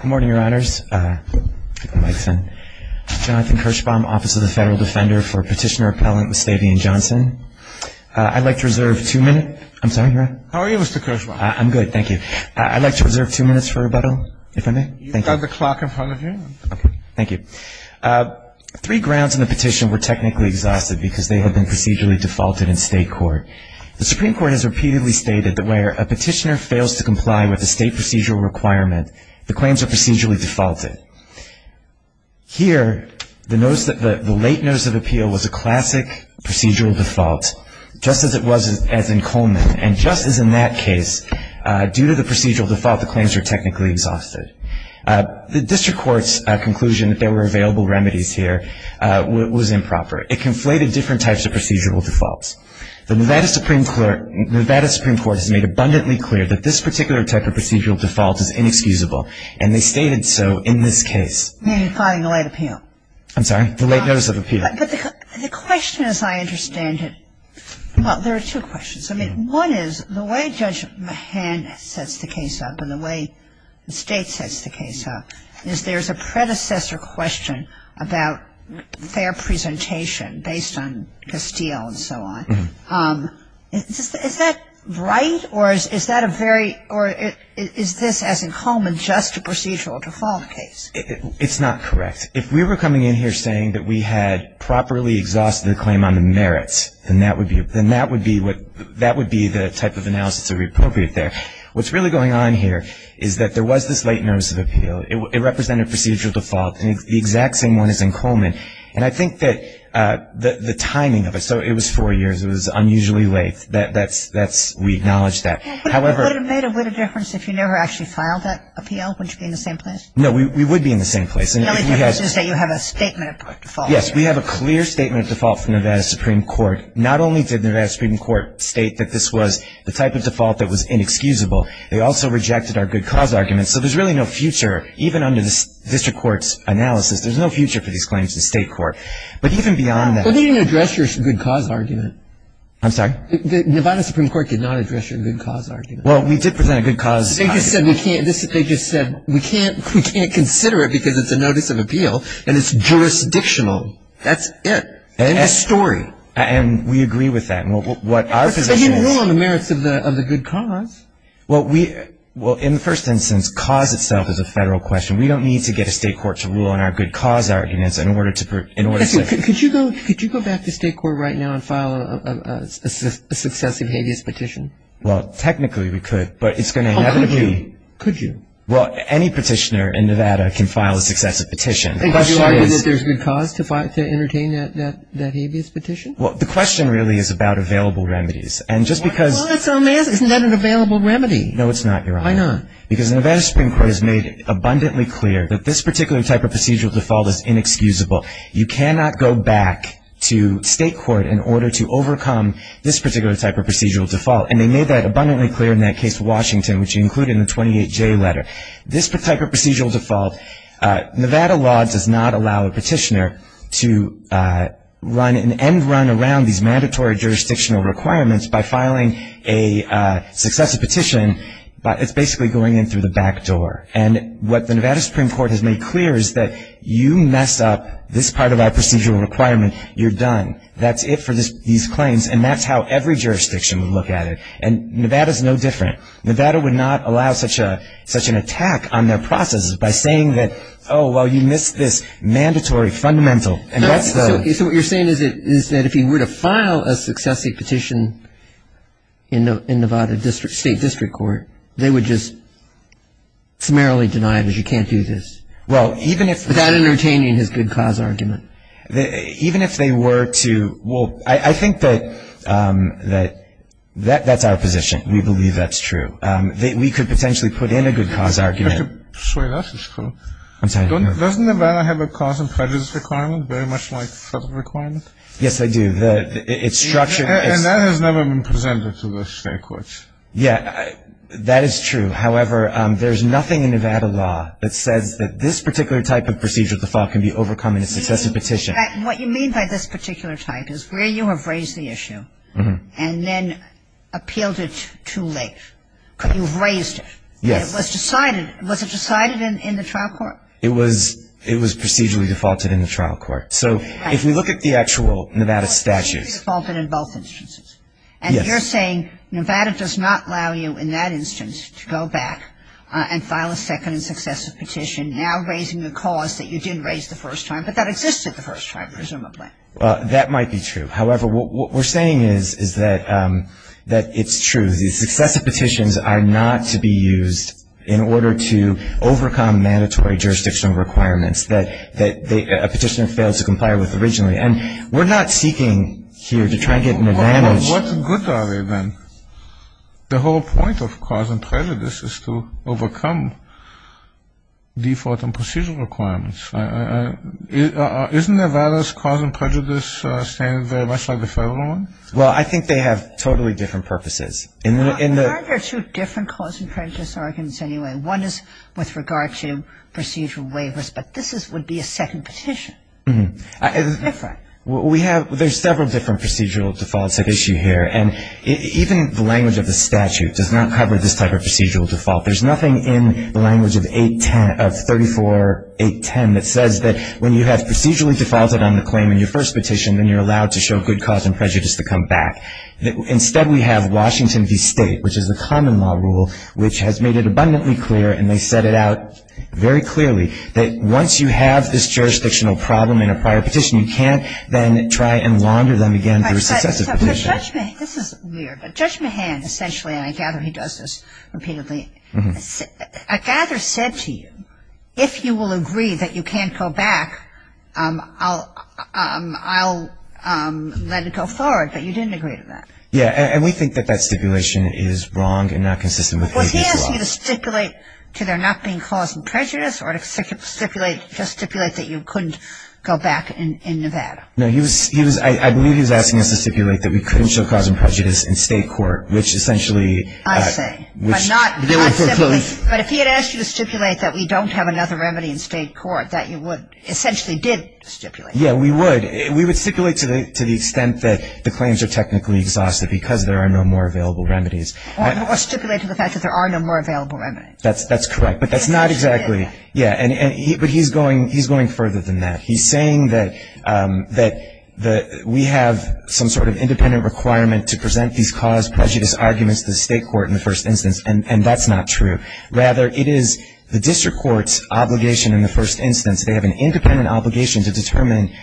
Good morning, your honors. Jonathan Kirschbaum, Office of the Federal Defender for Petitioner Appellant Lusteveon Johnson. I'd like to reserve two minutes for rebuttal. Three grounds in the petition were technically exhausted because they had been procedurally defaulted in state court. The Supreme Court has repeatedly stated that where a petitioner fails to comply with a state procedural requirement, the claims are procedurally defaulted. Here, the late notice of appeal was a classic procedural default, just as it was in Coleman, and just as in that case, due to the procedural default, the claims are technically exhausted. The district court's conclusion that there were available remedies here was improper. It conflated different types of procedural defaults. The Nevada Supreme Court has made abundantly clear that this particular type of procedural default is inexcusable, and they stated so in this case. You're implying the late appeal. I'm sorry, the late notice of appeal. But the question, as I understand it, well, there are two questions. I mean, one is the way Judge Mahan sets the case up and the way the State sets the case up is there's a predecessor about fair presentation based on Castile and so on. Is that right? Or is that a very or is this, as in Coleman, just a procedural default case? It's not correct. If we were coming in here saying that we had properly exhausted the claim on the merits, then that would be the type of analysis that would be appropriate there. What's really going on here is that there was this late notice of appeal. It represented procedural default. The exact same one as in Coleman. And I think that the timing of it, so it was four years, it was unusually late. We acknowledge that. Would it have made a bit of difference if you never actually filed that appeal, wouldn't you be in the same place? No, we would be in the same place. The only difference is that you have a statement of default. Yes, we have a clear statement of default from Nevada Supreme Court. Not only did Nevada Supreme Court state that this was the type of default that was inexcusable, they also rejected our good cause argument. So there's really no future, even under the district court's analysis, there's no future for these claims to the state court. But even beyond that. But they didn't address your good cause argument. I'm sorry? Nevada Supreme Court did not address your good cause argument. Well, we did present a good cause argument. They just said we can't consider it because it's a notice of appeal and it's jurisdictional. That's it. End of story. And we agree with that. And what our position is. But you rule on the merits of the good cause. Well, in the first instance, cause itself is a federal question. We don't need to get a state court to rule on our good cause arguments in order to... Could you go back to state court right now and file a successive habeas petition? Well, technically we could, but it's going to inevitably... How could you? Well, any petitioner in Nevada can file a successive petition. And could you argue that there's good cause to entertain that habeas petition? And just because... Well, isn't that an available remedy? No, it's not, Your Honor. Why not? Because Nevada Supreme Court has made abundantly clear that this particular type of procedural default is inexcusable. You cannot go back to state court in order to overcome this particular type of procedural default. And they made that abundantly clear in that case with Washington, which included in the 28J letter. This type of procedural default, Nevada law does not allow a petitioner to run an end run around these mandatory jurisdictional requirements by filing a successive petition. It's basically going in through the back door. And what the Nevada Supreme Court has made clear is that you mess up this part of our procedural requirement, you're done. That's it for these claims, and that's how every jurisdiction would look at it. And Nevada's no different. Nevada would not allow such an attack on their processes by saying that, oh, well, you missed this mandatory fundamental. So what you're saying is that if he were to file a successive petition in Nevada State District Court, they would just summarily deny it as you can't do this without entertaining his good cause argument. Even if they were to, well, I think that that's our position. We believe that's true. We could potentially put in a good cause argument. I could swear that's true. I'm sorry, Your Honor. Doesn't Nevada have a cause and prejudice requirement very much like federal requirement? Yes, they do. It's structured. And that has never been presented to the state courts. Yeah, that is true. However, there's nothing in Nevada law that says that this particular type of procedural default can be overcome in a successive petition. What you mean by this particular type is where you have raised the issue and then appealed it too late. You've raised it. Yes. Was it decided in the trial court? It was procedurally defaulted in the trial court. So if we look at the actual Nevada statutes. It was procedurally defaulted in both instances. Yes. And you're saying Nevada does not allow you in that instance to go back and file a second and successive petition, now raising the cause that you didn't raise the first time, but that existed the first time, presumably. That might be true. However, what we're saying is that it's true. These successive petitions are not to be used in order to overcome mandatory jurisdictional requirements that a petitioner fails to comply with originally. And we're not seeking here to try and get an advantage. Well, what good are they then? The whole point of cause and prejudice is to overcome default and procedural requirements. Isn't Nevada's cause and prejudice standard very much like the federal one? Well, I think they have totally different purposes. Aren't there two different cause and prejudice arguments anyway? One is with regard to procedural waivers, but this would be a second petition. It's different. There's several different procedural defaults at issue here. And even the language of the statute does not cover this type of procedural default. There's nothing in the language of 810, of 34-810, that says that when you have procedurally defaulted on the claim in your first petition, then you're allowed to show good cause and prejudice to come back. Instead, we have Washington v. State, which is a common law rule, which has made it abundantly clear, and they set it out very clearly, that once you have this jurisdictional problem in a prior petition, you can't then try and launder them again for a successive petition. This is weird, but Judge Mahan essentially, and I gather he does this repeatedly, I gather said to you, if you will agree that you can't go back, I'll let it go forward, but you didn't agree to that. Yeah, and we think that that stipulation is wrong and not consistent with 810 as well. Was he asking you to stipulate to there not being cause and prejudice or to stipulate that you couldn't go back in Nevada? No, I believe he was asking us to stipulate that we couldn't show cause and prejudice in state court, which essentially ‑‑ I say. But if he had asked you to stipulate that we don't have another remedy in state court, that you essentially did stipulate. Yeah, we would. We would stipulate to the extent that the claims are technically exhausted because there are no more available remedies. Or stipulate to the fact that there are no more available remedies. That's correct. But that's not exactly ‑‑ Yeah, but he's going further than that. He's saying that we have some sort of independent requirement to present these cause prejudice arguments to the state court in the first instance, and that's not true. Rather, it is the district court's obligation in the first instance. They have an independent obligation to determine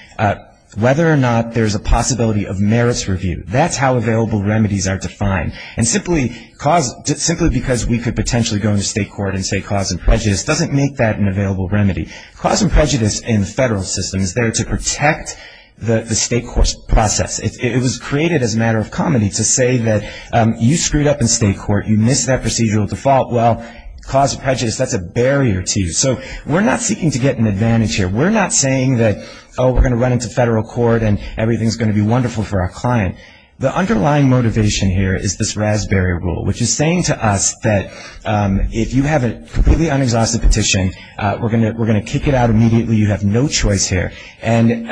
whether or not there's a possibility of merits review. That's how available remedies are defined. And simply because we could potentially go into state court and say cause and prejudice doesn't make that an available remedy. Cause and prejudice in the federal system is there to protect the state court's process. It was created as a matter of comedy to say that you screwed up in state court. You missed that procedural default. Well, cause and prejudice, that's a barrier to you. So we're not seeking to get an advantage here. We're not saying that, oh, we're going to run into federal court and everything's going to be wonderful for our client. The underlying motivation here is this RAS barrier rule, which is saying to us that if you have a completely unexhausted petition, we're going to kick it out immediately. You have no choice here. And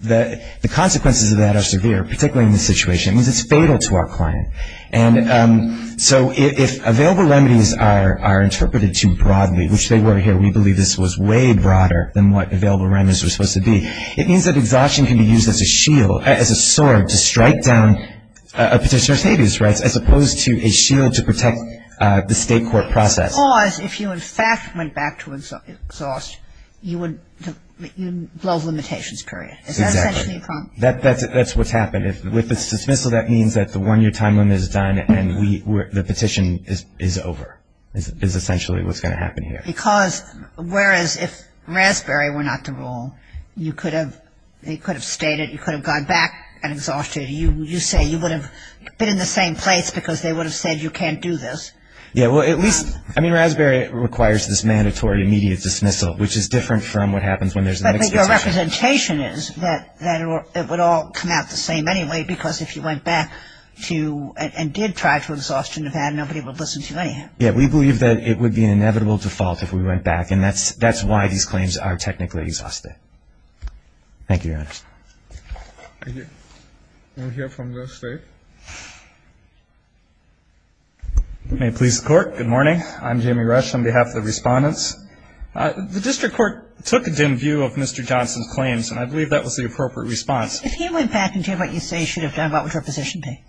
the consequences of that are severe, particularly in this situation. It means it's fatal to our client. And so if available remedies are interpreted too broadly, which they were here, we believe this was way broader than what available remedies were supposed to be, it means that exhaustion can be used as a shield, as a sword, to strike down a petitioner's habeas rights, as opposed to a shield to protect the state court process. Because if you, in fact, went back to exhaust, you would blow the limitations, period. Exactly. Is that essentially a problem? That's what's happened. With this dismissal, that means that the one-year time limit is done and the petition is over, is essentially what's going to happen here. Because whereas if RAS barrier were not the rule, you could have stated, you could have gone back and exhausted it. You say you would have been in the same place because they would have said you can't do this. Yeah. Well, at least, I mean, RAS barrier requires this mandatory immediate dismissal, which is different from what happens when there's an unexhausted petition. But the representation is that it would all come out the same anyway, because if you went back to and did try to exhaust to Nevada, nobody would listen to you anyhow. Yeah. We believe that it would be an inevitable default if we went back, and that's why these claims are technically exhausted. Thank you, Your Honor. Thank you. We'll hear from the State. May it please the Court. Good morning. I'm Jamie Rush on behalf of the Respondents. The district court took a dim view of Mr. Johnson's claims, and I believe that was the appropriate response. If he went back and did what you say he should have done, what would your position be?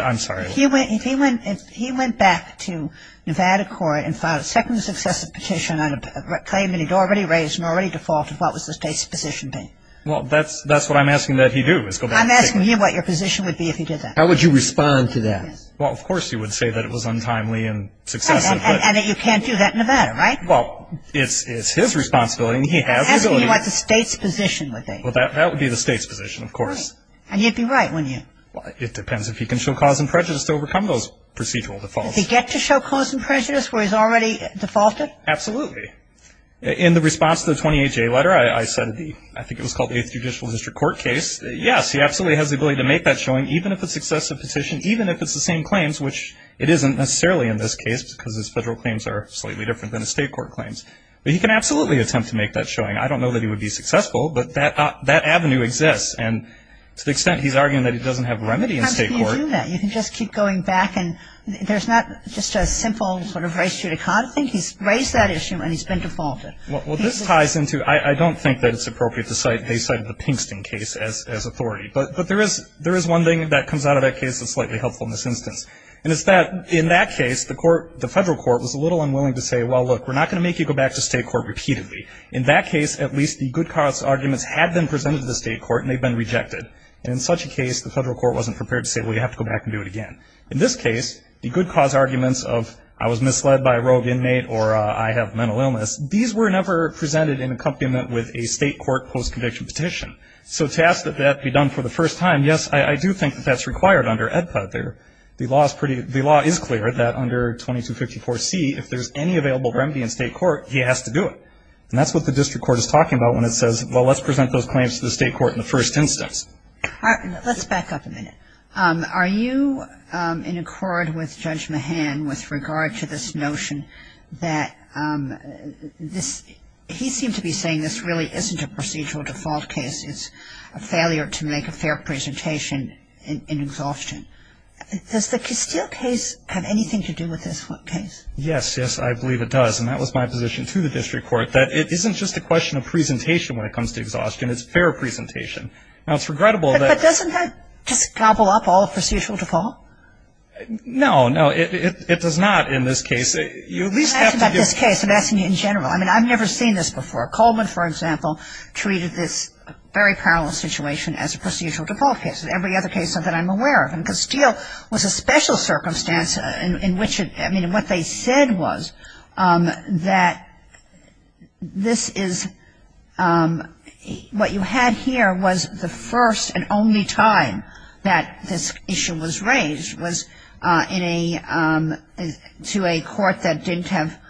I'm sorry? If he went back to Nevada court and filed a second successive petition on a claim that he'd already raised and already defaulted, what was the State's position be? Well, that's what I'm asking that he do, is go back and take it. I'm asking him what your position would be if he did that. How would you respond to that? Well, of course he would say that it was untimely and successive. And that you can't do that in Nevada, right? Well, it's his responsibility, and he has the ability. I'm asking you what the State's position would be. Well, that would be the State's position, of course. Right. And you'd be right, wouldn't you? It depends if he can show cause and prejudice to overcome those procedural defaults. Does he get to show cause and prejudice where he's already defaulted? Absolutely. In the response to the 28-J letter, I said I think it was called the Eighth Judicial District Court case. Yes, he absolutely has the ability to make that showing, even if it's a successive petition, even if it's the same claims, which it isn't necessarily in this case because his federal claims are slightly different than his State court claims. But he can absolutely attempt to make that showing. I don't know that he would be successful, but that avenue exists. And to the extent he's arguing that he doesn't have remedy in State court. How can you do that? You can just keep going back, and there's not just a simple sort of race judicata thing. He's raised that issue, and he's been defaulted. Well, this ties into I don't think that it's appropriate to cite the Pinkston case as authority. But there is one thing that comes out of that case that's slightly helpful in this instance. And it's that in that case, the federal court was a little unwilling to say, well, look, we're not going to make you go back to State court repeatedly. In that case, at least the good cause arguments had been presented to the State court, and they'd been rejected. And in such a case, the federal court wasn't prepared to say, well, you have to go back and do it again. In this case, the good cause arguments of I was misled by a rogue inmate or I have mental illness, these were never presented in accompaniment with a State court post-conviction petition. So to ask that that be done for the first time, yes, I do think that that's required under EDPA there. The law is clear that under 2254C, if there's any available remedy in State court, he has to do it. And that's what the district court is talking about when it says, well, let's present those claims to the State court in the first instance. All right. Let's back up a minute. Are you in accord with Judge Mahan with regard to this notion that this he seemed to be saying this really isn't a procedural default case. It's a failure to make a fair presentation in exhaustion. Does the Castile case have anything to do with this case? Yes. Yes, I believe it does. And that was my position to the district court, that it isn't just a question of presentation when it comes to exhaustion. It's fair presentation. Now, it's regrettable that. But doesn't that just gobble up all of procedural default? No. No, it does not in this case. You at least have to give. I'm asking about this case. I'm asking you in general. I mean, I've never seen this before. Coleman, for example, treated this very parallel situation as a procedural default case. Every other case of that I'm aware of. And Castile was a special circumstance in which it – I mean, what they said was that this is – what you had here was the first and only time that this issue was raised was in a – to a court that didn't have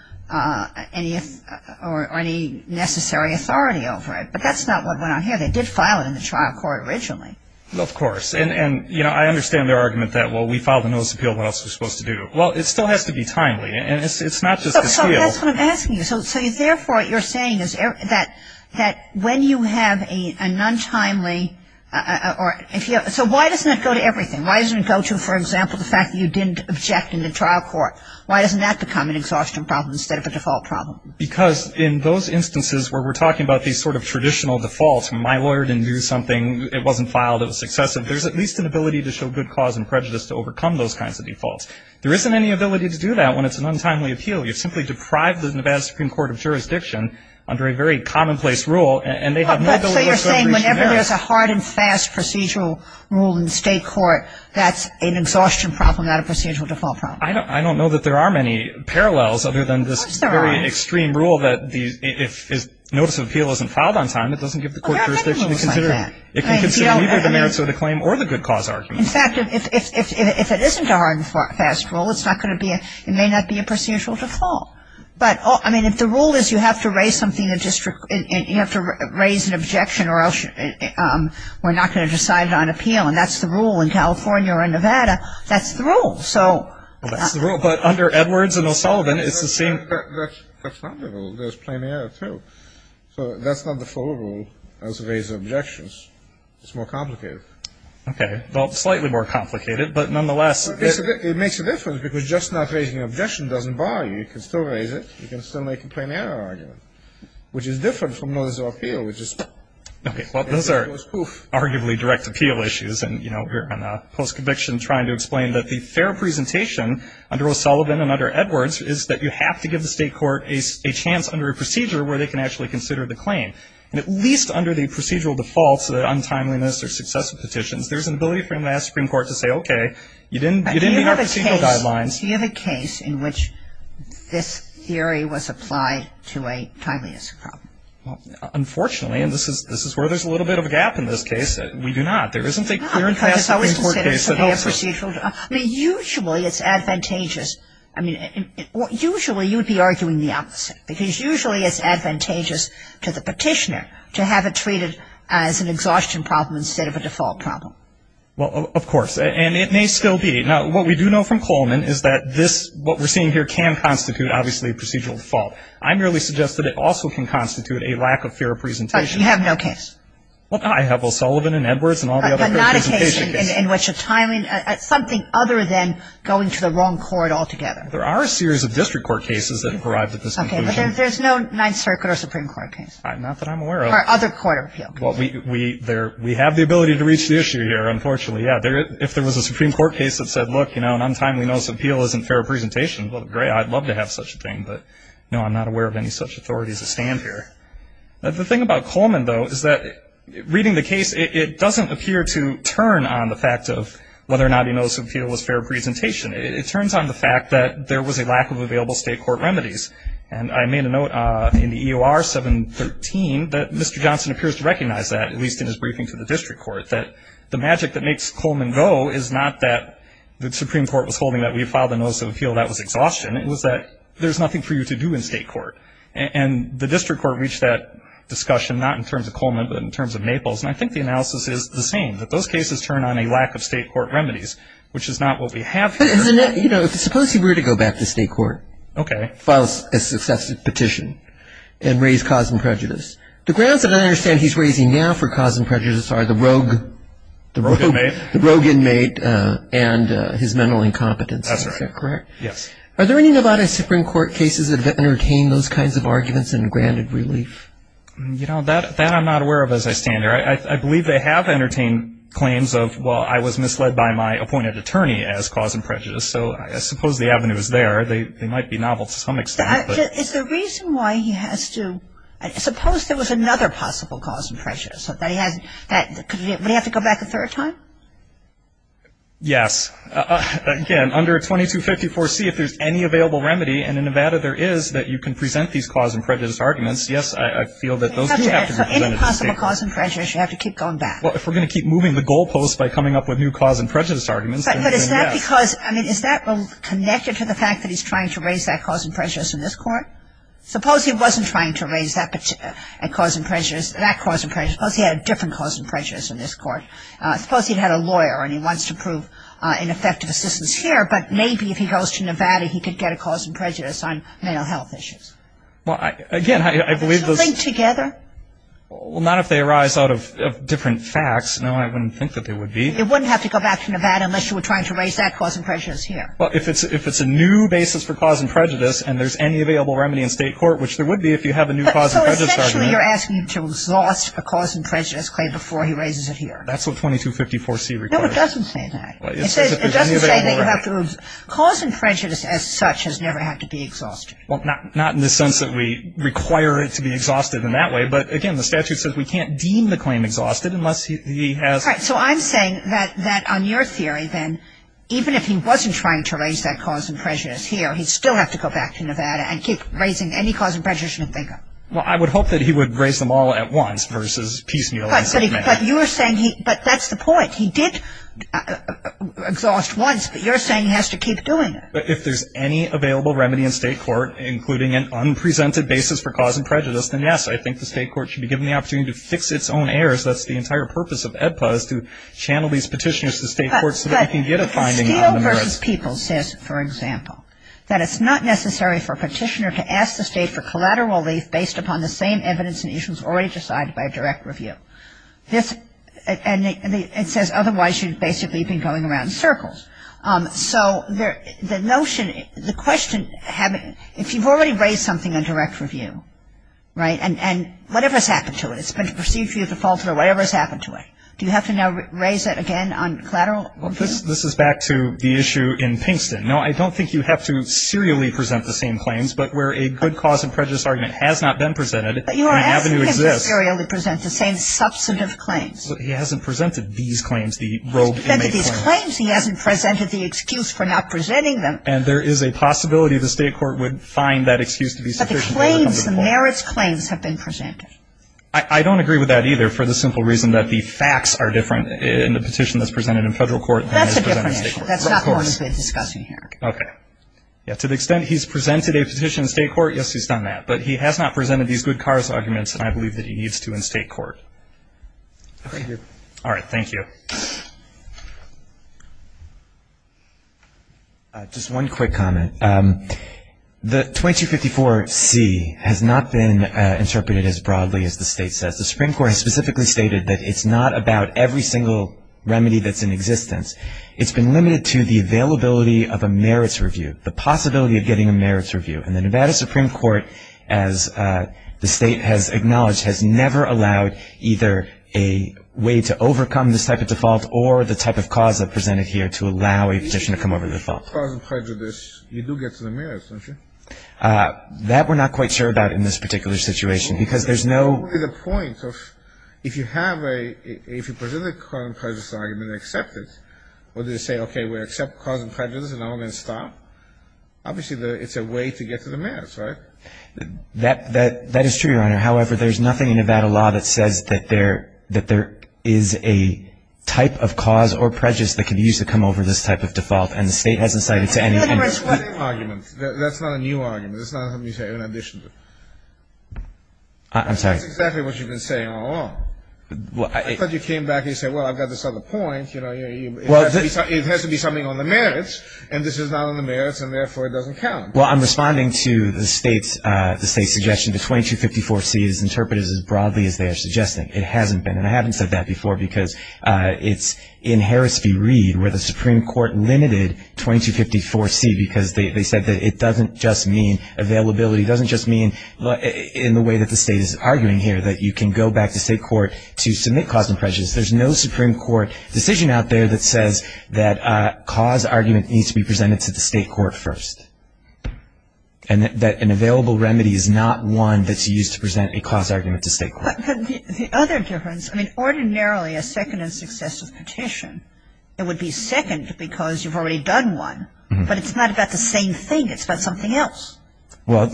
any – or any necessary authority over it. But that's not what went on here. They did file it in the trial court originally. Of course. And, you know, I understand their argument that, well, we filed the notice of appeal. What else are we supposed to do? Well, it still has to be timely. And it's not just the skill. So that's what I'm asking you. So therefore, what you're saying is that when you have a non-timely – or if you have – so why doesn't that go to everything? Why doesn't it go to, for example, the fact that you didn't object in the trial court? Why doesn't that become an exhaustion problem instead of a default problem? Because in those instances where we're talking about these sort of traditional defaults, my lawyer didn't do something, it wasn't filed, it was excessive, there's at least an ability to show good cause and prejudice to overcome those kinds of defaults. There isn't any ability to do that when it's an untimely appeal. You simply deprive the Nevada Supreme Court of jurisdiction under a very commonplace rule, and they have no ability to go and reach you now. So you're saying whenever there's a hard and fast procedural rule in state court, that's an exhaustion problem, not a procedural default problem? I don't know that there are many parallels other than this very extreme rule that if notice of appeal isn't filed on time, it doesn't give the court jurisdiction to consider it. It can consider either the merits of the claim or the good cause argument. In fact, if it isn't a hard and fast rule, it may not be a procedural default. But, I mean, if the rule is you have to raise an objection or else we're not going to decide it on appeal, and that's the rule in California or in Nevada, that's the rule. Well, that's the rule, but under Edwards and O'Sullivan, it's the same. That's not the rule. There's plenty of it, too. So that's not the full rule as to raise objections. It's more complicated. Okay. Well, slightly more complicated, but nonetheless. It makes a difference because just not raising an objection doesn't bother you. You can still raise it. You can still make a plain error argument, which is different from notice of appeal, which is poof. Okay. Well, those are arguably direct appeal issues, and we're in a post-conviction trying to explain that the fair presentation under O'Sullivan and under Edwards is that you have to give the state court a chance under a procedure where they can actually consider the claim. And at least under the procedural defaults, the untimeliness or successive petitions, there's an ability for them to ask the Supreme Court to say, okay, you didn't meet our procedural guidelines. Do you have a case in which this theory was applied to a timeliness problem? Unfortunately, and this is where there's a little bit of a gap in this case, we do not. There isn't a clear and fast Supreme Court case that helps us. I mean, usually it's advantageous. I mean, usually you'd be arguing the opposite, because usually it's advantageous to the petitioner to have it treated as an exhaustion problem instead of a default problem. Well, of course. And it may still be. Now, what we do know from Coleman is that this, what we're seeing here, can constitute obviously a procedural default. I merely suggest that it also can constitute a lack of fair presentation. But you have no case. Well, I have O'Sullivan and Edwards and all the other fair presentation cases. In which the timing, something other than going to the wrong court altogether. There are a series of district court cases that have arrived at this conclusion. Okay, but there's no Ninth Circuit or Supreme Court case. Not that I'm aware of. Or other court of appeal cases. Well, we have the ability to reach the issue here, unfortunately. Yeah, if there was a Supreme Court case that said, look, you know, an untimely notice of appeal isn't fair presentation, well, great. I'd love to have such a thing. But, no, I'm not aware of any such authorities that stand here. The thing about Coleman, though, is that reading the case, it doesn't appear to turn on the fact of whether or not a notice of appeal is fair presentation. It turns on the fact that there was a lack of available state court remedies. And I made a note in the EOR 713 that Mr. Johnson appears to recognize that, at least in his briefing to the district court. That the magic that makes Coleman go is not that the Supreme Court was holding that we filed a notice of appeal that was exhaustion. It was that there's nothing for you to do in state court. And the district court reached that discussion, not in terms of Coleman, but in terms of Naples. And I think the analysis is the same, that those cases turn on a lack of state court remedies, which is not what we have here. But, you know, suppose he were to go back to state court. Okay. File a successive petition and raise cause and prejudice. The grounds that I understand he's raising now for cause and prejudice are the rogue. The rogue inmate. The rogue inmate and his mental incompetence. That's right. Is that correct? Yes. Are there any Nevada Supreme Court cases that have entertained those kinds of arguments and granted relief? You know, that I'm not aware of as I stand here. I believe they have entertained claims of, well, I was misled by my appointed attorney as cause and prejudice. So I suppose the avenue is there. They might be novel to some extent. Is the reason why he has to – suppose there was another possible cause and prejudice. Would he have to go back a third time? Yes. Again, under 2254C, if there's any available remedy, and in Nevada there is that you can present these cause and prejudice arguments, yes, I feel that those do have to be presented to the state. Any possible cause and prejudice, you have to keep going back. Well, if we're going to keep moving the goalposts by coming up with new cause and prejudice arguments, then yes. But is that because, I mean, is that connected to the fact that he's trying to raise that cause and prejudice in this court? Suppose he wasn't trying to raise that cause and prejudice. Suppose he had a different cause and prejudice in this court. Suppose he had a lawyer and he wants to prove ineffective assistance here, but maybe if he goes to Nevada, he could get a cause and prejudice on male health issues. Well, again, I believe those – Do they link together? Well, not if they arise out of different facts. No, I wouldn't think that they would be. He wouldn't have to go back to Nevada unless you were trying to raise that cause and prejudice here. Well, if it's a new basis for cause and prejudice and there's any available remedy in state court, which there would be if you have a new cause and prejudice argument. So essentially you're asking him to exhaust a cause and prejudice claim before he raises it here. That's what 2254C requires. No, it doesn't say that. It doesn't say that you have to – Cause and prejudice as such has never had to be exhausted. Well, not in the sense that we require it to be exhausted in that way, but, again, the statute says we can't deem the claim exhausted unless he has – All right. So I'm saying that on your theory, then, even if he wasn't trying to raise that cause and prejudice here, he'd still have to go back to Nevada and keep raising any cause and prejudice you can think of. Well, I would hope that he would raise them all at once versus piecemeal. But you are saying he – but that's the point. He did exhaust once, but you're saying he has to keep doing it. But if there's any available remedy in state court, including an unpresented basis for cause and prejudice, then, yes, I think the state court should be given the opportunity to fix its own errors. That's the entire purpose of AEDPA, is to channel these petitioners to state court so that we can get a finding out. But steel versus people says, for example, that it's not necessary for a petitioner to ask the state for collateral relief based upon the same evidence and issues already decided by a direct review. And it says, otherwise, you'd basically be going around in circles. So the notion – the question – if you've already raised something in direct review, right, and whatever's happened to it, it's been perceived to be at fault, or whatever's happened to it, do you have to now raise it again on collateral? Well, this is back to the issue in Pinkston. No, I don't think you have to serially present the same claims, but where a good cause and prejudice argument has not been presented, the avenue exists. But you are asking him to serially present the same substantive claims. But he hasn't presented these claims, the robe inmate claims. He hasn't presented these claims. He hasn't presented the excuse for not presenting them. And there is a possibility the state court would find that excuse to be sufficient. But the claims, the merits claims, have been presented. I don't agree with that, either, for the simple reason that the facts are different in the petition that's presented in federal court than is presented in state court. That's a different issue. That's not the one we've been discussing here. Okay. To the extent he's presented a petition in state court, yes, he's done that. But he has not presented these good cause arguments, and I believe that he needs to in state court. Thank you. All right. Thank you. Just one quick comment. The 2254C has not been interpreted as broadly as the state says. The Supreme Court has specifically stated that it's not about every single remedy that's in existence. It's been limited to the availability of a merits review, the possibility of getting a merits review. And the Nevada Supreme Court, as the state has acknowledged, has never allowed either a way to overcome this type of default or the type of cause I've presented here to allow a petition to come over the default. You do get to the merits, don't you? That we're not quite sure about in this particular situation, because there's no — What is the point of if you have a — if you present a cause and prejudice argument and accept it, what do you say? Okay, we accept cause and prejudice, and now we're going to stop? Obviously, it's a way to get to the merits, right? That is true, Your Honor. However, there's nothing in Nevada law that says that there is a type of cause or prejudice that can be used to come over this type of default, and the state hasn't cited to any — That's not a new argument. That's not something you say in addition to it. I'm sorry. That's exactly what you've been saying all along. I thought you came back and you said, well, I've got this other point, you know. It has to be something on the merits, and this is not on the merits, and therefore it doesn't count. Well, I'm responding to the state's suggestion. The 2254C is interpreted as broadly as they are suggesting. It hasn't been. And I haven't said that before because it's in Harris v. Reed where the Supreme Court limited 2254C because they said that it doesn't just mean availability, doesn't just mean in the way that the state is arguing here, that you can go back to state court to submit cause and prejudice. There's no Supreme Court decision out there that says that cause argument needs to be presented to the state court first and that an available remedy is not one that's used to present a cause argument to state court. But the other difference, I mean, ordinarily a second and successive petition, it would be second because you've already done one, but it's not about the same thing. It's about something else. Well,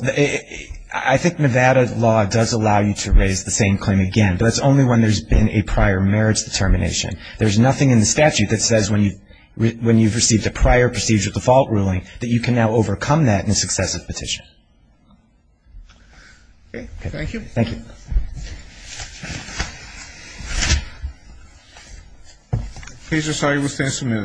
I think Nevada law does allow you to raise the same claim again, but that's only when there's been a prior merits determination. There's nothing in the statute that says when you've received a prior procedural default ruling that you can now overcome that in a successive petition. Okay. Thank you. Thank you. Please restate your stance.